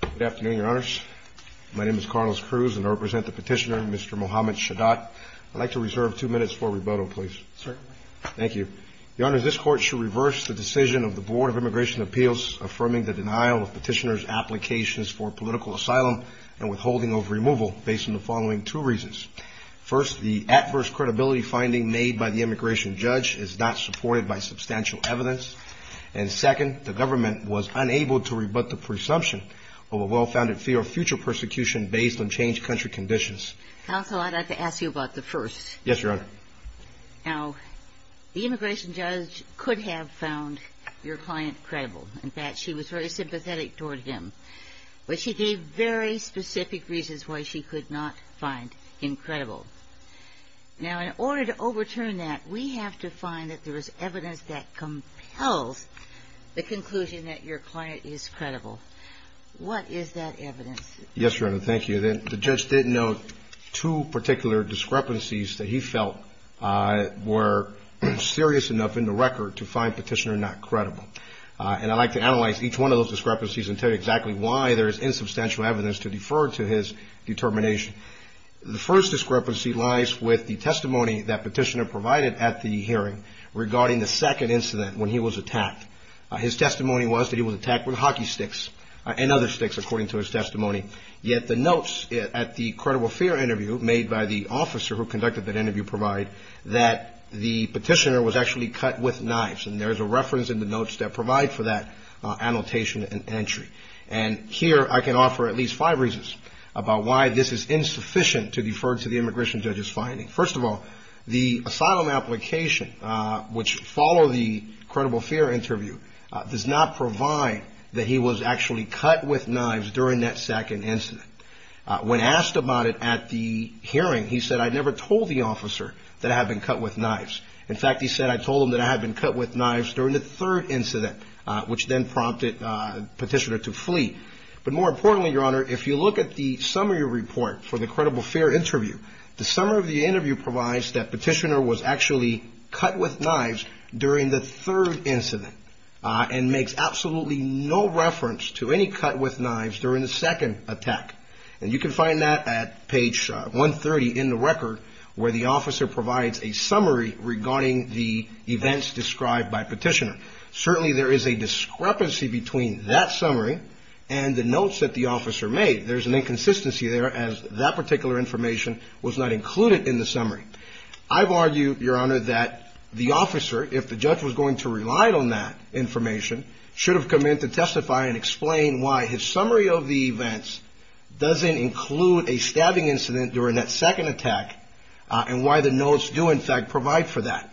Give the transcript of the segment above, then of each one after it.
Good afternoon, Your Honors. My name is Carlos Cruz, and I represent the petitioner, Mr. Mohamed Shaddat. I'd like to reserve two minutes for rebuttal, please. Certainly. Thank you. Your Honors, this Court should reverse the decision of the Board of Immigration Appeals affirming the denial of petitioner's applications for political asylum and withholding of removal based on the following two reasons. First, the adverse credibility finding made by the immigration judge is not supported by substantial evidence. And second, the government was unable to rebut the presumption of a well-founded fear of future persecution based on changed country conditions. Counsel, I'd like to ask you about the first. Yes, Your Honor. Now, the immigration judge could have found your client credible. In fact, she was very sympathetic toward him. But she gave very specific reasons why she could not find him credible. Now, in order to overturn that, we have to find that there is evidence that your client is credible. What is that evidence? Yes, Your Honor. Thank you. The judge did note two particular discrepancies that he felt were serious enough in the record to find petitioner not credible. And I'd like to analyze each one of those discrepancies and tell you exactly why there is insubstantial evidence to defer to his determination. The first discrepancy lies with the testimony that petitioner provided at the hearing regarding the second incident when he was attacked. His testimony was that he was attacked with hockey sticks and other sticks, according to his testimony. Yet the notes at the credible fear interview made by the officer who conducted that interview provide that the petitioner was actually cut with knives. And there is a reference in the notes that provide for that annotation and entry. And here I can offer at least five reasons about why this is insufficient to defer to the immigration judge's finding. First of all, the asylum application, which followed the credible fear interview, does not provide that he was actually cut with knives during that second incident. When asked about it at the hearing, he said, I never told the officer that I had been cut with knives. In fact, he said, I told him that I had been cut with knives during the third incident, which then prompted petitioner to flee. But more importantly, your honor, if you look at the summary report for the credible fear interview, the summary of the interview provides that petitioner was actually cut with knives during the third incident, and makes absolutely no reference to any cut with knives during the second attack. And you can find that at page 130 in the record, where the officer provides a summary regarding the events described by petitioner. Certainly, there is a discrepancy between that summary and the notes that the officer made. There's an inconsistency there, as that particular information was not included in the summary. I've argued, your honor, that the officer, if the judge was going to rely on that information, should have come in to testify and explain why his summary of the events doesn't include a stabbing incident during that second attack, and why the notes do, in fact, provide for that.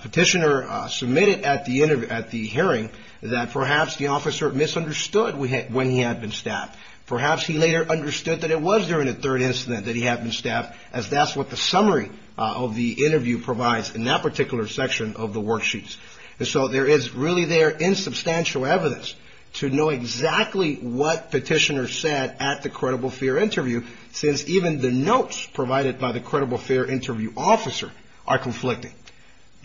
Petitioner submitted at the hearing that perhaps the officer misunderstood when he had been stabbed. Perhaps he later understood that it was during the third incident that he had been stabbed, as that's what the summary of the interview provides in that particular section of the worksheets. So there is really there insubstantial evidence to know exactly what petitioner said at the hearing, and what the notes that were taken by the incredible fair interview officer are conflicting.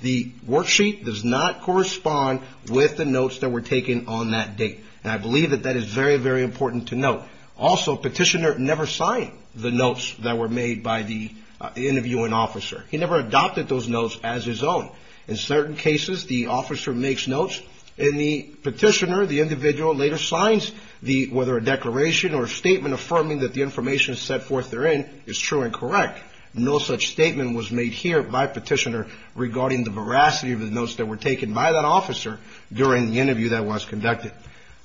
The worksheet does not correspond with the notes that were taken on that date. And I believe that that is very, very important to note. Also, petitioner never signed the notes that were made by the interviewing officer. He never adopted those notes as his own. In certain cases, the officer makes notes, and the petitioner, the individual, later no such statement was made here by petitioner regarding the veracity of the notes that were taken by that officer during the interview that was conducted.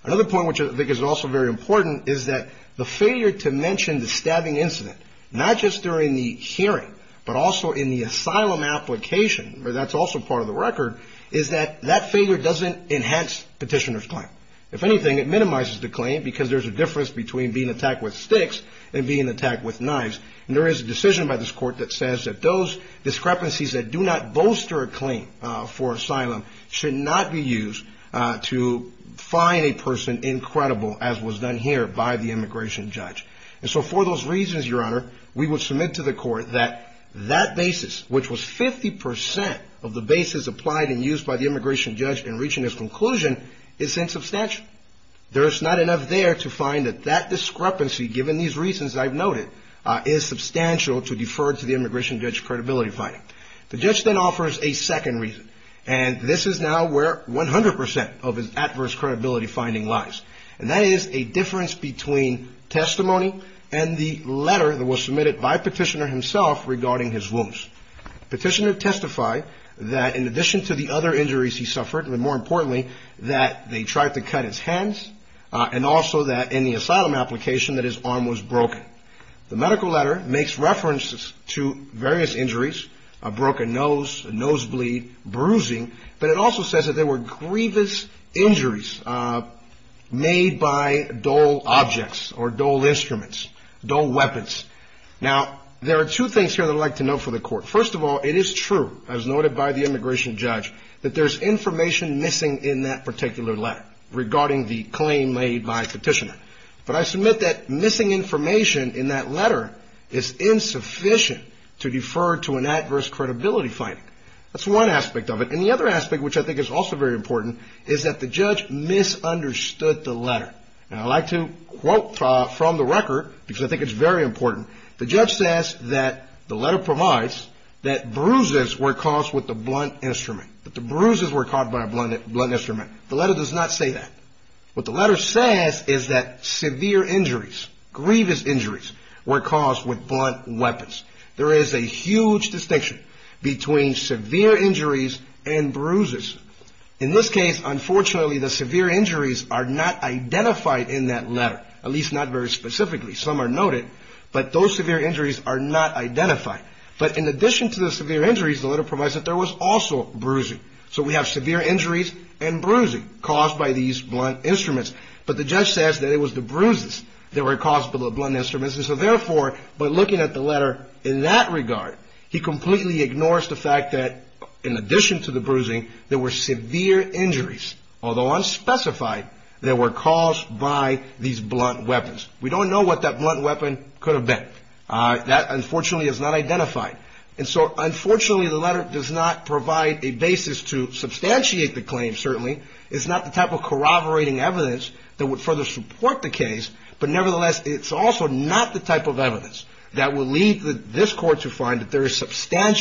Another point which I think is also very important is that the failure to mention the stabbing incident, not just during the hearing, but also in the asylum application, where that's also part of the record, is that that failure doesn't enhance petitioner's claim. If anything, it minimizes the claim, because there's a decision by this court that says that those discrepancies that do not bolster a claim for asylum should not be used to find a person incredible, as was done here by the immigration judge. And so for those reasons, Your Honor, we would submit to the court that that basis, which was 50 percent of the basis applied and used by the immigration judge in reaching his conclusion, is insubstantial. There is not enough there to find that that discrepancy, given these reasons I've noted, is substantial to defer to the immigration judge's credibility finding. The judge then offers a second reason, and this is now where 100 percent of his adverse credibility finding lies, and that is a difference between testimony and the letter that was submitted by petitioner himself regarding his wounds. Petitioner testified that in addition to the other injuries he suffered, and more importantly, that they tried to cut his hands, and also that in the asylum application, that his arm was broken. The medical letter makes references to various injuries, a broken nose, a nosebleed, bruising, but it also says that there were grievous injuries made by dull objects or dull instruments, dull weapons. Now, there are two things here that I'd like to note for the court. First of all, it is true, as noted by the immigration judge, that there's information missing in that particular letter regarding the claim made by petitioner. But I submit that missing information in that letter is insufficient to defer to an adverse credibility finding. That's one aspect of it. And the other aspect, which I think is also very important, is that the judge misunderstood the letter. And I'd like to The letter provides that bruises were caused with a blunt instrument. That the bruises were caused by a blunt instrument. The letter does not say that. What the letter says is that severe injuries, grievous injuries, were caused with blunt weapons. There is a huge distinction between severe injuries and bruises. In this case, unfortunately, the severe injuries are not identified in that letter, at least not very specifically. Some are noted, but those severe injuries are not identified. But in addition to the severe injuries, the letter provides that there was also bruising. So we have severe injuries and bruising caused by these blunt instruments. But the judge says that it was the bruises that were caused by the blunt instruments. And so, therefore, by looking at the letter in that regard, he completely ignores the fact that, in addition to the bruising, there were severe injuries, although unspecified, that were caused by these blunt weapons. We don't know what that blunt weapon could have been. That, unfortunately, is not identified. And so, unfortunately, the letter does not provide a basis to substantiate the claim, certainly. It's not the type of corroborating evidence that would further support the case. But nevertheless, it's also not the type of evidence that will lead this Court to find that there is a warrant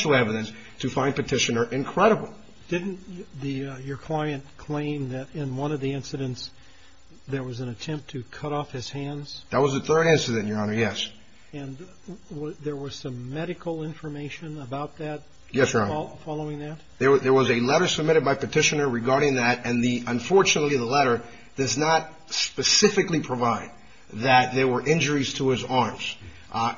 claim that in one of the incidents there was an attempt to cut off his hands. That was the third incident, Your Honor. Yes. And there was some medical information about that following that? Yes, Your Honor. There was a letter submitted by Petitioner regarding that. And, unfortunately, the letter does not specifically provide that there were injuries to his arms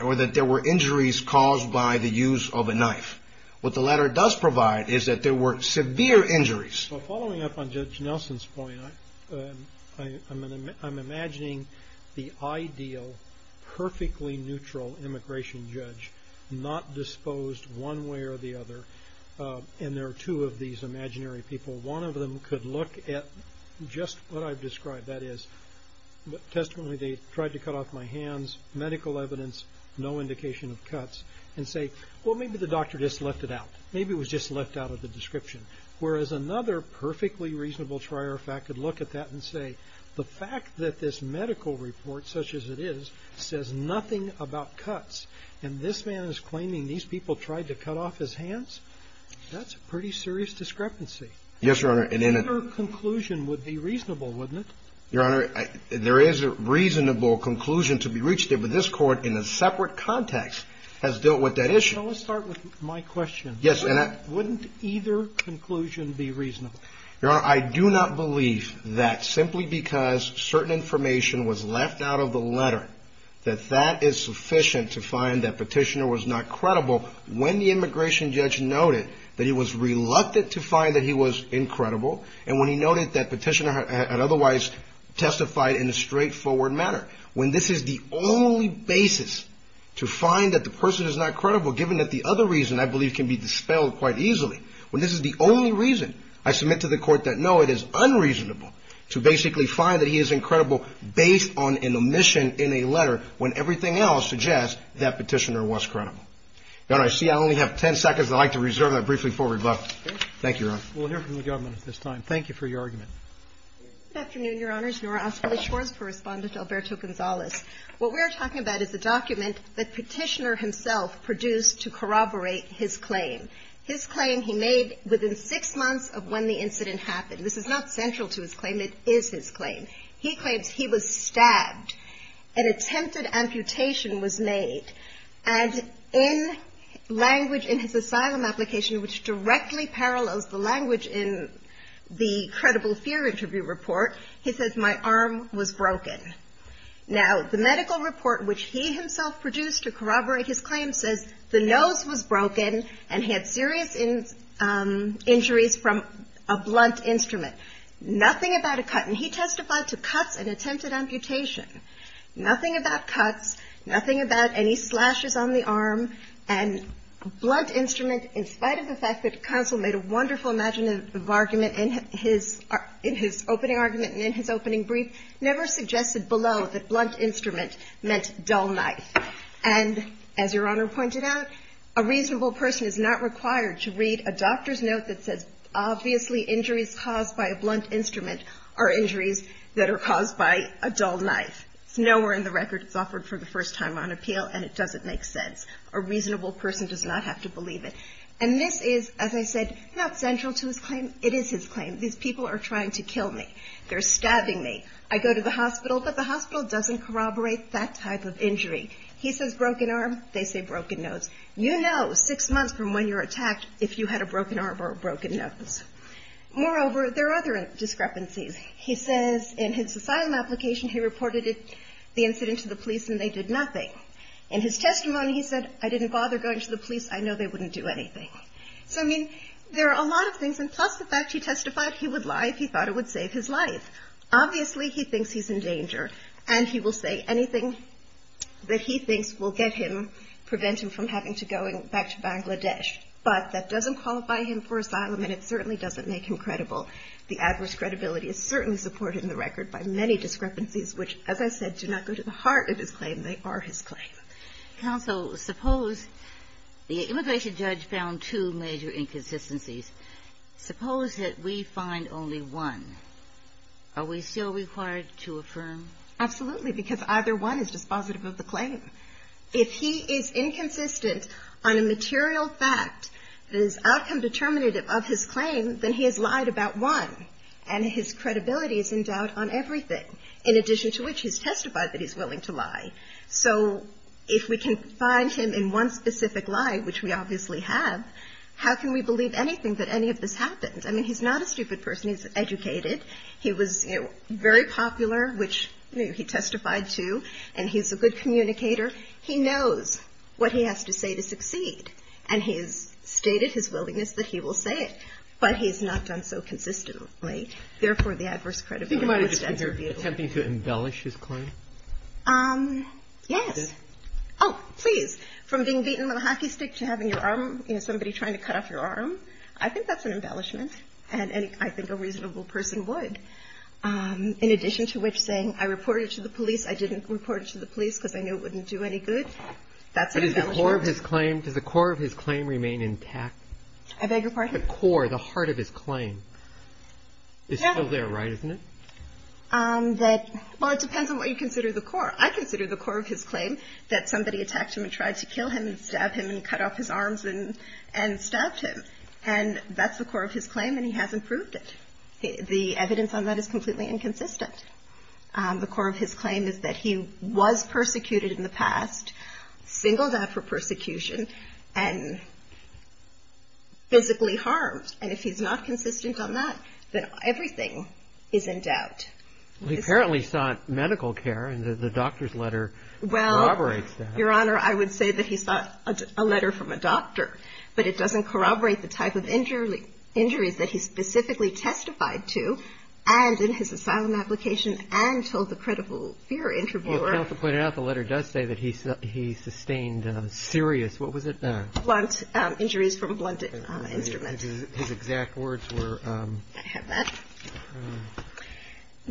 or that there were injuries caused by the use of a knife. What the letter does provide is that there were severe injuries. Well, following up on Judge Nelson's point, I'm imagining the ideal, perfectly neutral immigration judge, not disposed one way or the other. And there are two of these imaginary people. One of them could look at just what I've described. That is, testamentally, they tried to cut off my hands. And they would look at that and say, well, maybe the doctor just left it out. Maybe it was just left out of the description. Whereas another perfectly reasonable trier of fact could look at that and say, the fact that this medical report, such as it is, says nothing about cuts, and this man is claiming these people tried to cut off his hands, that's a pretty serious discrepancy. Yes, Your Honor. And in a... Your conclusion would be reasonable, wouldn't it? Your Honor, there is a reasonable conclusion to be reached there. But this Court, in a separate context, has dealt with that issue. Well, let's start with my question. Yes, and I... Wouldn't either conclusion be reasonable? Your Honor, I do not believe that simply because certain information was left out of the letter, that that is sufficient to find that Petitioner was not credible when the immigration judge noted that he was reluctant to find that he was incredible, and when he noted that Petitioner had otherwise testified in a straightforward manner. When this is the only basis to find that the person is not credible, given that the other reason, I believe, can be dispelled quite easily. When this is the only reason, I submit to the Court that, no, it is unreasonable to basically find that he is incredible based on an omission in a letter when everything else suggests that Petitioner was credible. Your Honor, I see I only have 10 seconds. I'd like to reserve that briefly for rebuttal. Thank you, Your Honor. We'll hear from the government at this time. Thank you for your argument. Good afternoon, Your Honors. Nora Osprey Shores for Respondent Alberto Gonzalez. What we are talking about is a document that Petitioner himself produced to corroborate his claim. His claim he made within six months of when the incident happened. This is not central to his claim. It is his claim. He claims he was stabbed. An attempted amputation was made. And in language in his asylum application, which directly parallels the language in the credible fear interview report, he says, my arm was broken. Now, the medical report which he himself produced to corroborate his claim says the nose was broken and he had serious injuries from a blunt instrument. Nothing about a cut. And he testified to cuts and attempted amputation. Nothing about cuts. Nothing about any slashes on the arm. And blunt instrument, in spite of the fact that counsel made a wonderful imaginative argument in his opening argument and in his opening brief, never suggested below that blunt instrument meant dull knife. And as Your Honor pointed out, a reasonable person is not required to read a doctor's note that says obviously injuries caused by a blunt instrument are injuries that are caused by a dull knife. Nowhere in the record is it offered for the first time on appeal, and it doesn't make sense. A reasonable person does not have to believe it. And this is, as I said, not central to his claim. It is his claim. These people are trying to kill me. They're stabbing me. I go to the hospital, but the hospital doesn't corroborate that type of injury. He says broken arm. They say broken nose. You know six months from when you were attacked if you had a broken arm or a broken nose. Moreover, there are other discrepancies. He says in his asylum application he reported the incident to the police and they did nothing. In his testimony he said, I didn't bother going to the police. I know they wouldn't do anything. So, I mean, there are a lot of things. And plus the fact he testified he would lie if he thought it would save his life. Obviously he thinks he's in danger, and he will say anything that he thinks will get him, prevent him from having to go back to Bangladesh. But that doesn't qualify him for asylum, and it certainly doesn't make him credible. The adverse credibility is certainly supported in the record by many discrepancies which, as I said, do not go to the heart of his claim. They are his claim. Counsel, suppose the immigration judge found two major inconsistencies. Suppose that we find only one. Are we still required to affirm? Absolutely, because either one is dispositive of the claim. If he is inconsistent on a material fact that is outcome determinative of his claim, then he has lied about one, and his credibility is in doubt on everything, in addition to which he's testified that he's willing to lie. So if we can find him in one specific lie, which we obviously have, how can we believe anything that any of this happened? I mean, he's not a stupid person. He's educated. He was very popular, which he testified to, and he's a good communicator. He knows what he has to say to succeed, and he has stated his willingness that he will say it. But he's not done so consistently. Therefore, the adverse credibility extends to a vehicle. Attempting to embellish his claim? Yes. Oh, please. From being beaten with a hockey stick to having your arm, you know, somebody trying to cut off your arm, I think that's an embellishment, and I think a reasonable person would. In addition to which, saying I reported it to the police, I didn't report it to the police because I knew it wouldn't do any good, that's an embellishment. Does the core of his claim remain intact? I beg your pardon? The core, the heart of his claim is still there, right, isn't it? Well, it depends on what you consider the core. I consider the core of his claim that somebody attacked him and tried to kill him and stab him and cut off his arms and stabbed him. And that's the core of his claim, and he hasn't proved it. The evidence on that is completely inconsistent. The core of his claim is that he was persecuted in the past, singled out for his crimes, and that he was armed. And if he's not consistent on that, then everything is in doubt. He apparently sought medical care, and the doctor's letter corroborates that. Well, Your Honor, I would say that he sought a letter from a doctor, but it doesn't corroborate the type of injuries that he specifically testified to and in his asylum application and told the credible fear interviewer. Counsel pointed out the letter does say that he sustained serious, what was it? Blunt injuries from a blunt instrument. His exact words were? I have that.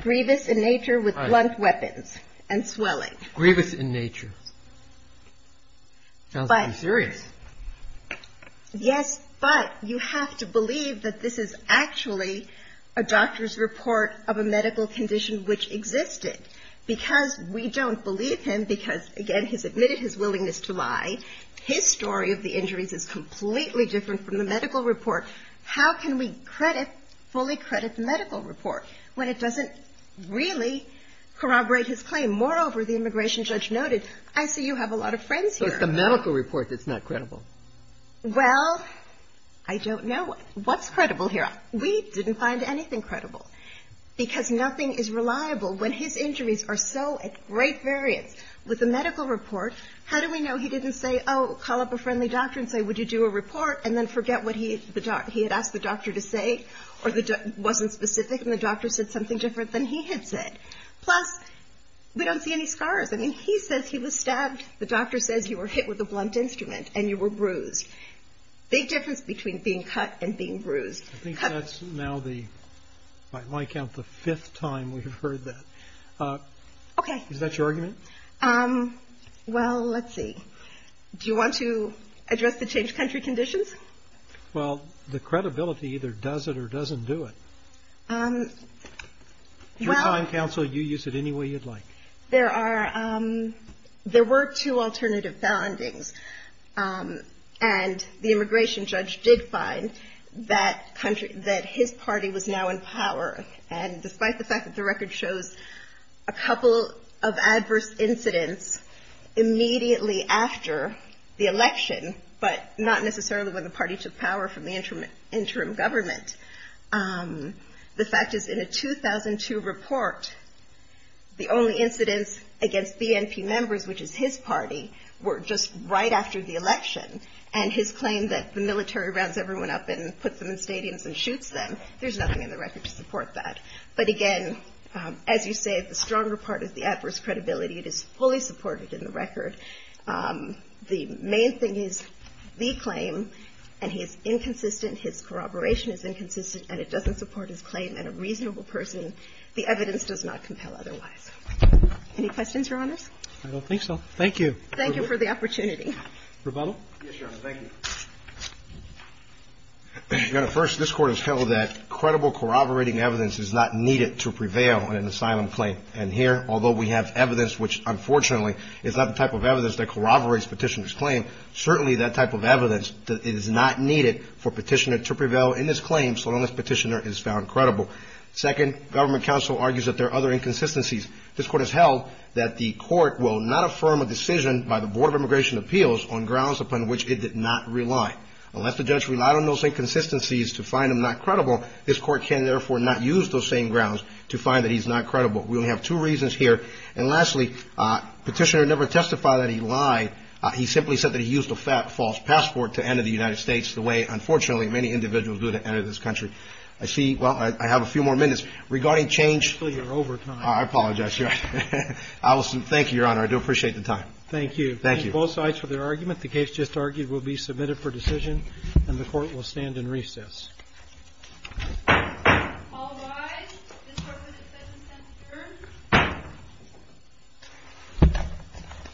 Grievous in nature with blunt weapons and swelling. Grievous in nature. Sounds pretty serious. Yes, but you have to believe that this is actually a doctor's report of a medical condition which existed, because we don't believe him because, again, he's admitted his willingness to lie. His story of the injuries is completely different from the medical report. How can we credit, fully credit the medical report when it doesn't really corroborate his claim? Moreover, the immigration judge noted, I see you have a lot of friends here. So it's the medical report that's not credible. Well, I don't know. What's credible here? We didn't find anything credible, because nothing is reliable when his injuries are so at great variance. With the medical report, how do we know he didn't say, oh, call up a friendly doctor and say, would you do a report, and then forget what he had asked the doctor to say or wasn't specific and the doctor said something different than he had said? Plus, we don't see any scars. I mean, he says he was stabbed. The doctor says you were hit with a blunt instrument and you were bruised. Big difference between being cut and being bruised. I think that's now the, by my count, the fifth time we've heard that. Okay. Is that your argument? Well, let's see. Do you want to address the changed country conditions? Well, the credibility either does it or doesn't do it. Through time, counsel, you use it any way you'd like. There are, there were two alternative findings. And the immigration judge did find that country, that his party was now in power. And despite the fact that the record shows a couple of adverse incidents immediately after the election, but not necessarily when the party took power from the interim government, the fact is in a 2002 report, the only incidents against BNP members, which is his party, were just right after the election. And his claim that the military rounds everyone up and puts them in stadiums and shoots them, there's nothing in the record to support that. But again, as you say, the stronger part is the adverse credibility. It is fully supported in the record. The main thing is the claim, and he is inconsistent, his corroboration is inconsistent, and it doesn't support his claim. And the evidence does not compel otherwise. Any questions, Your Honors? I don't think so. Thank you. Thank you for the opportunity. Rebuttal? Yes, Your Honor. Thank you. Your Honor, first, this Court has held that credible corroborating evidence is not needed to prevail in an asylum claim. And here, although we have evidence which, unfortunately, is not the type of evidence that corroborates Petitioner's claim, certainly that type of evidence is not needed for Petitioner to prevail in this claim, so long as Petitioner is found credible. Second, Government Counsel argues that there are other inconsistencies. This Court has held that the Court will not affirm a decision by the Board of Immigration Appeals on grounds upon which it did not rely. Unless the judge relied on those inconsistencies to find him not credible, this Court can, therefore, not use those same grounds to find that he's not credible. We only have two reasons here. And lastly, Petitioner never testified that he lied. He simply said that he used a false passport to enter the United States, the way, unfortunately, many individuals do to enter this country. I see – well, I have a few more minutes. Regarding change – You're over time. I apologize, Your Honor. Allison, thank you, Your Honor. I do appreciate the time. Thank you. Thank you. Thank you, both sides, for their argument. The case just argued will be submitted for decision, and the Court will stand in recess. All rise. This Court will defend Petitioner.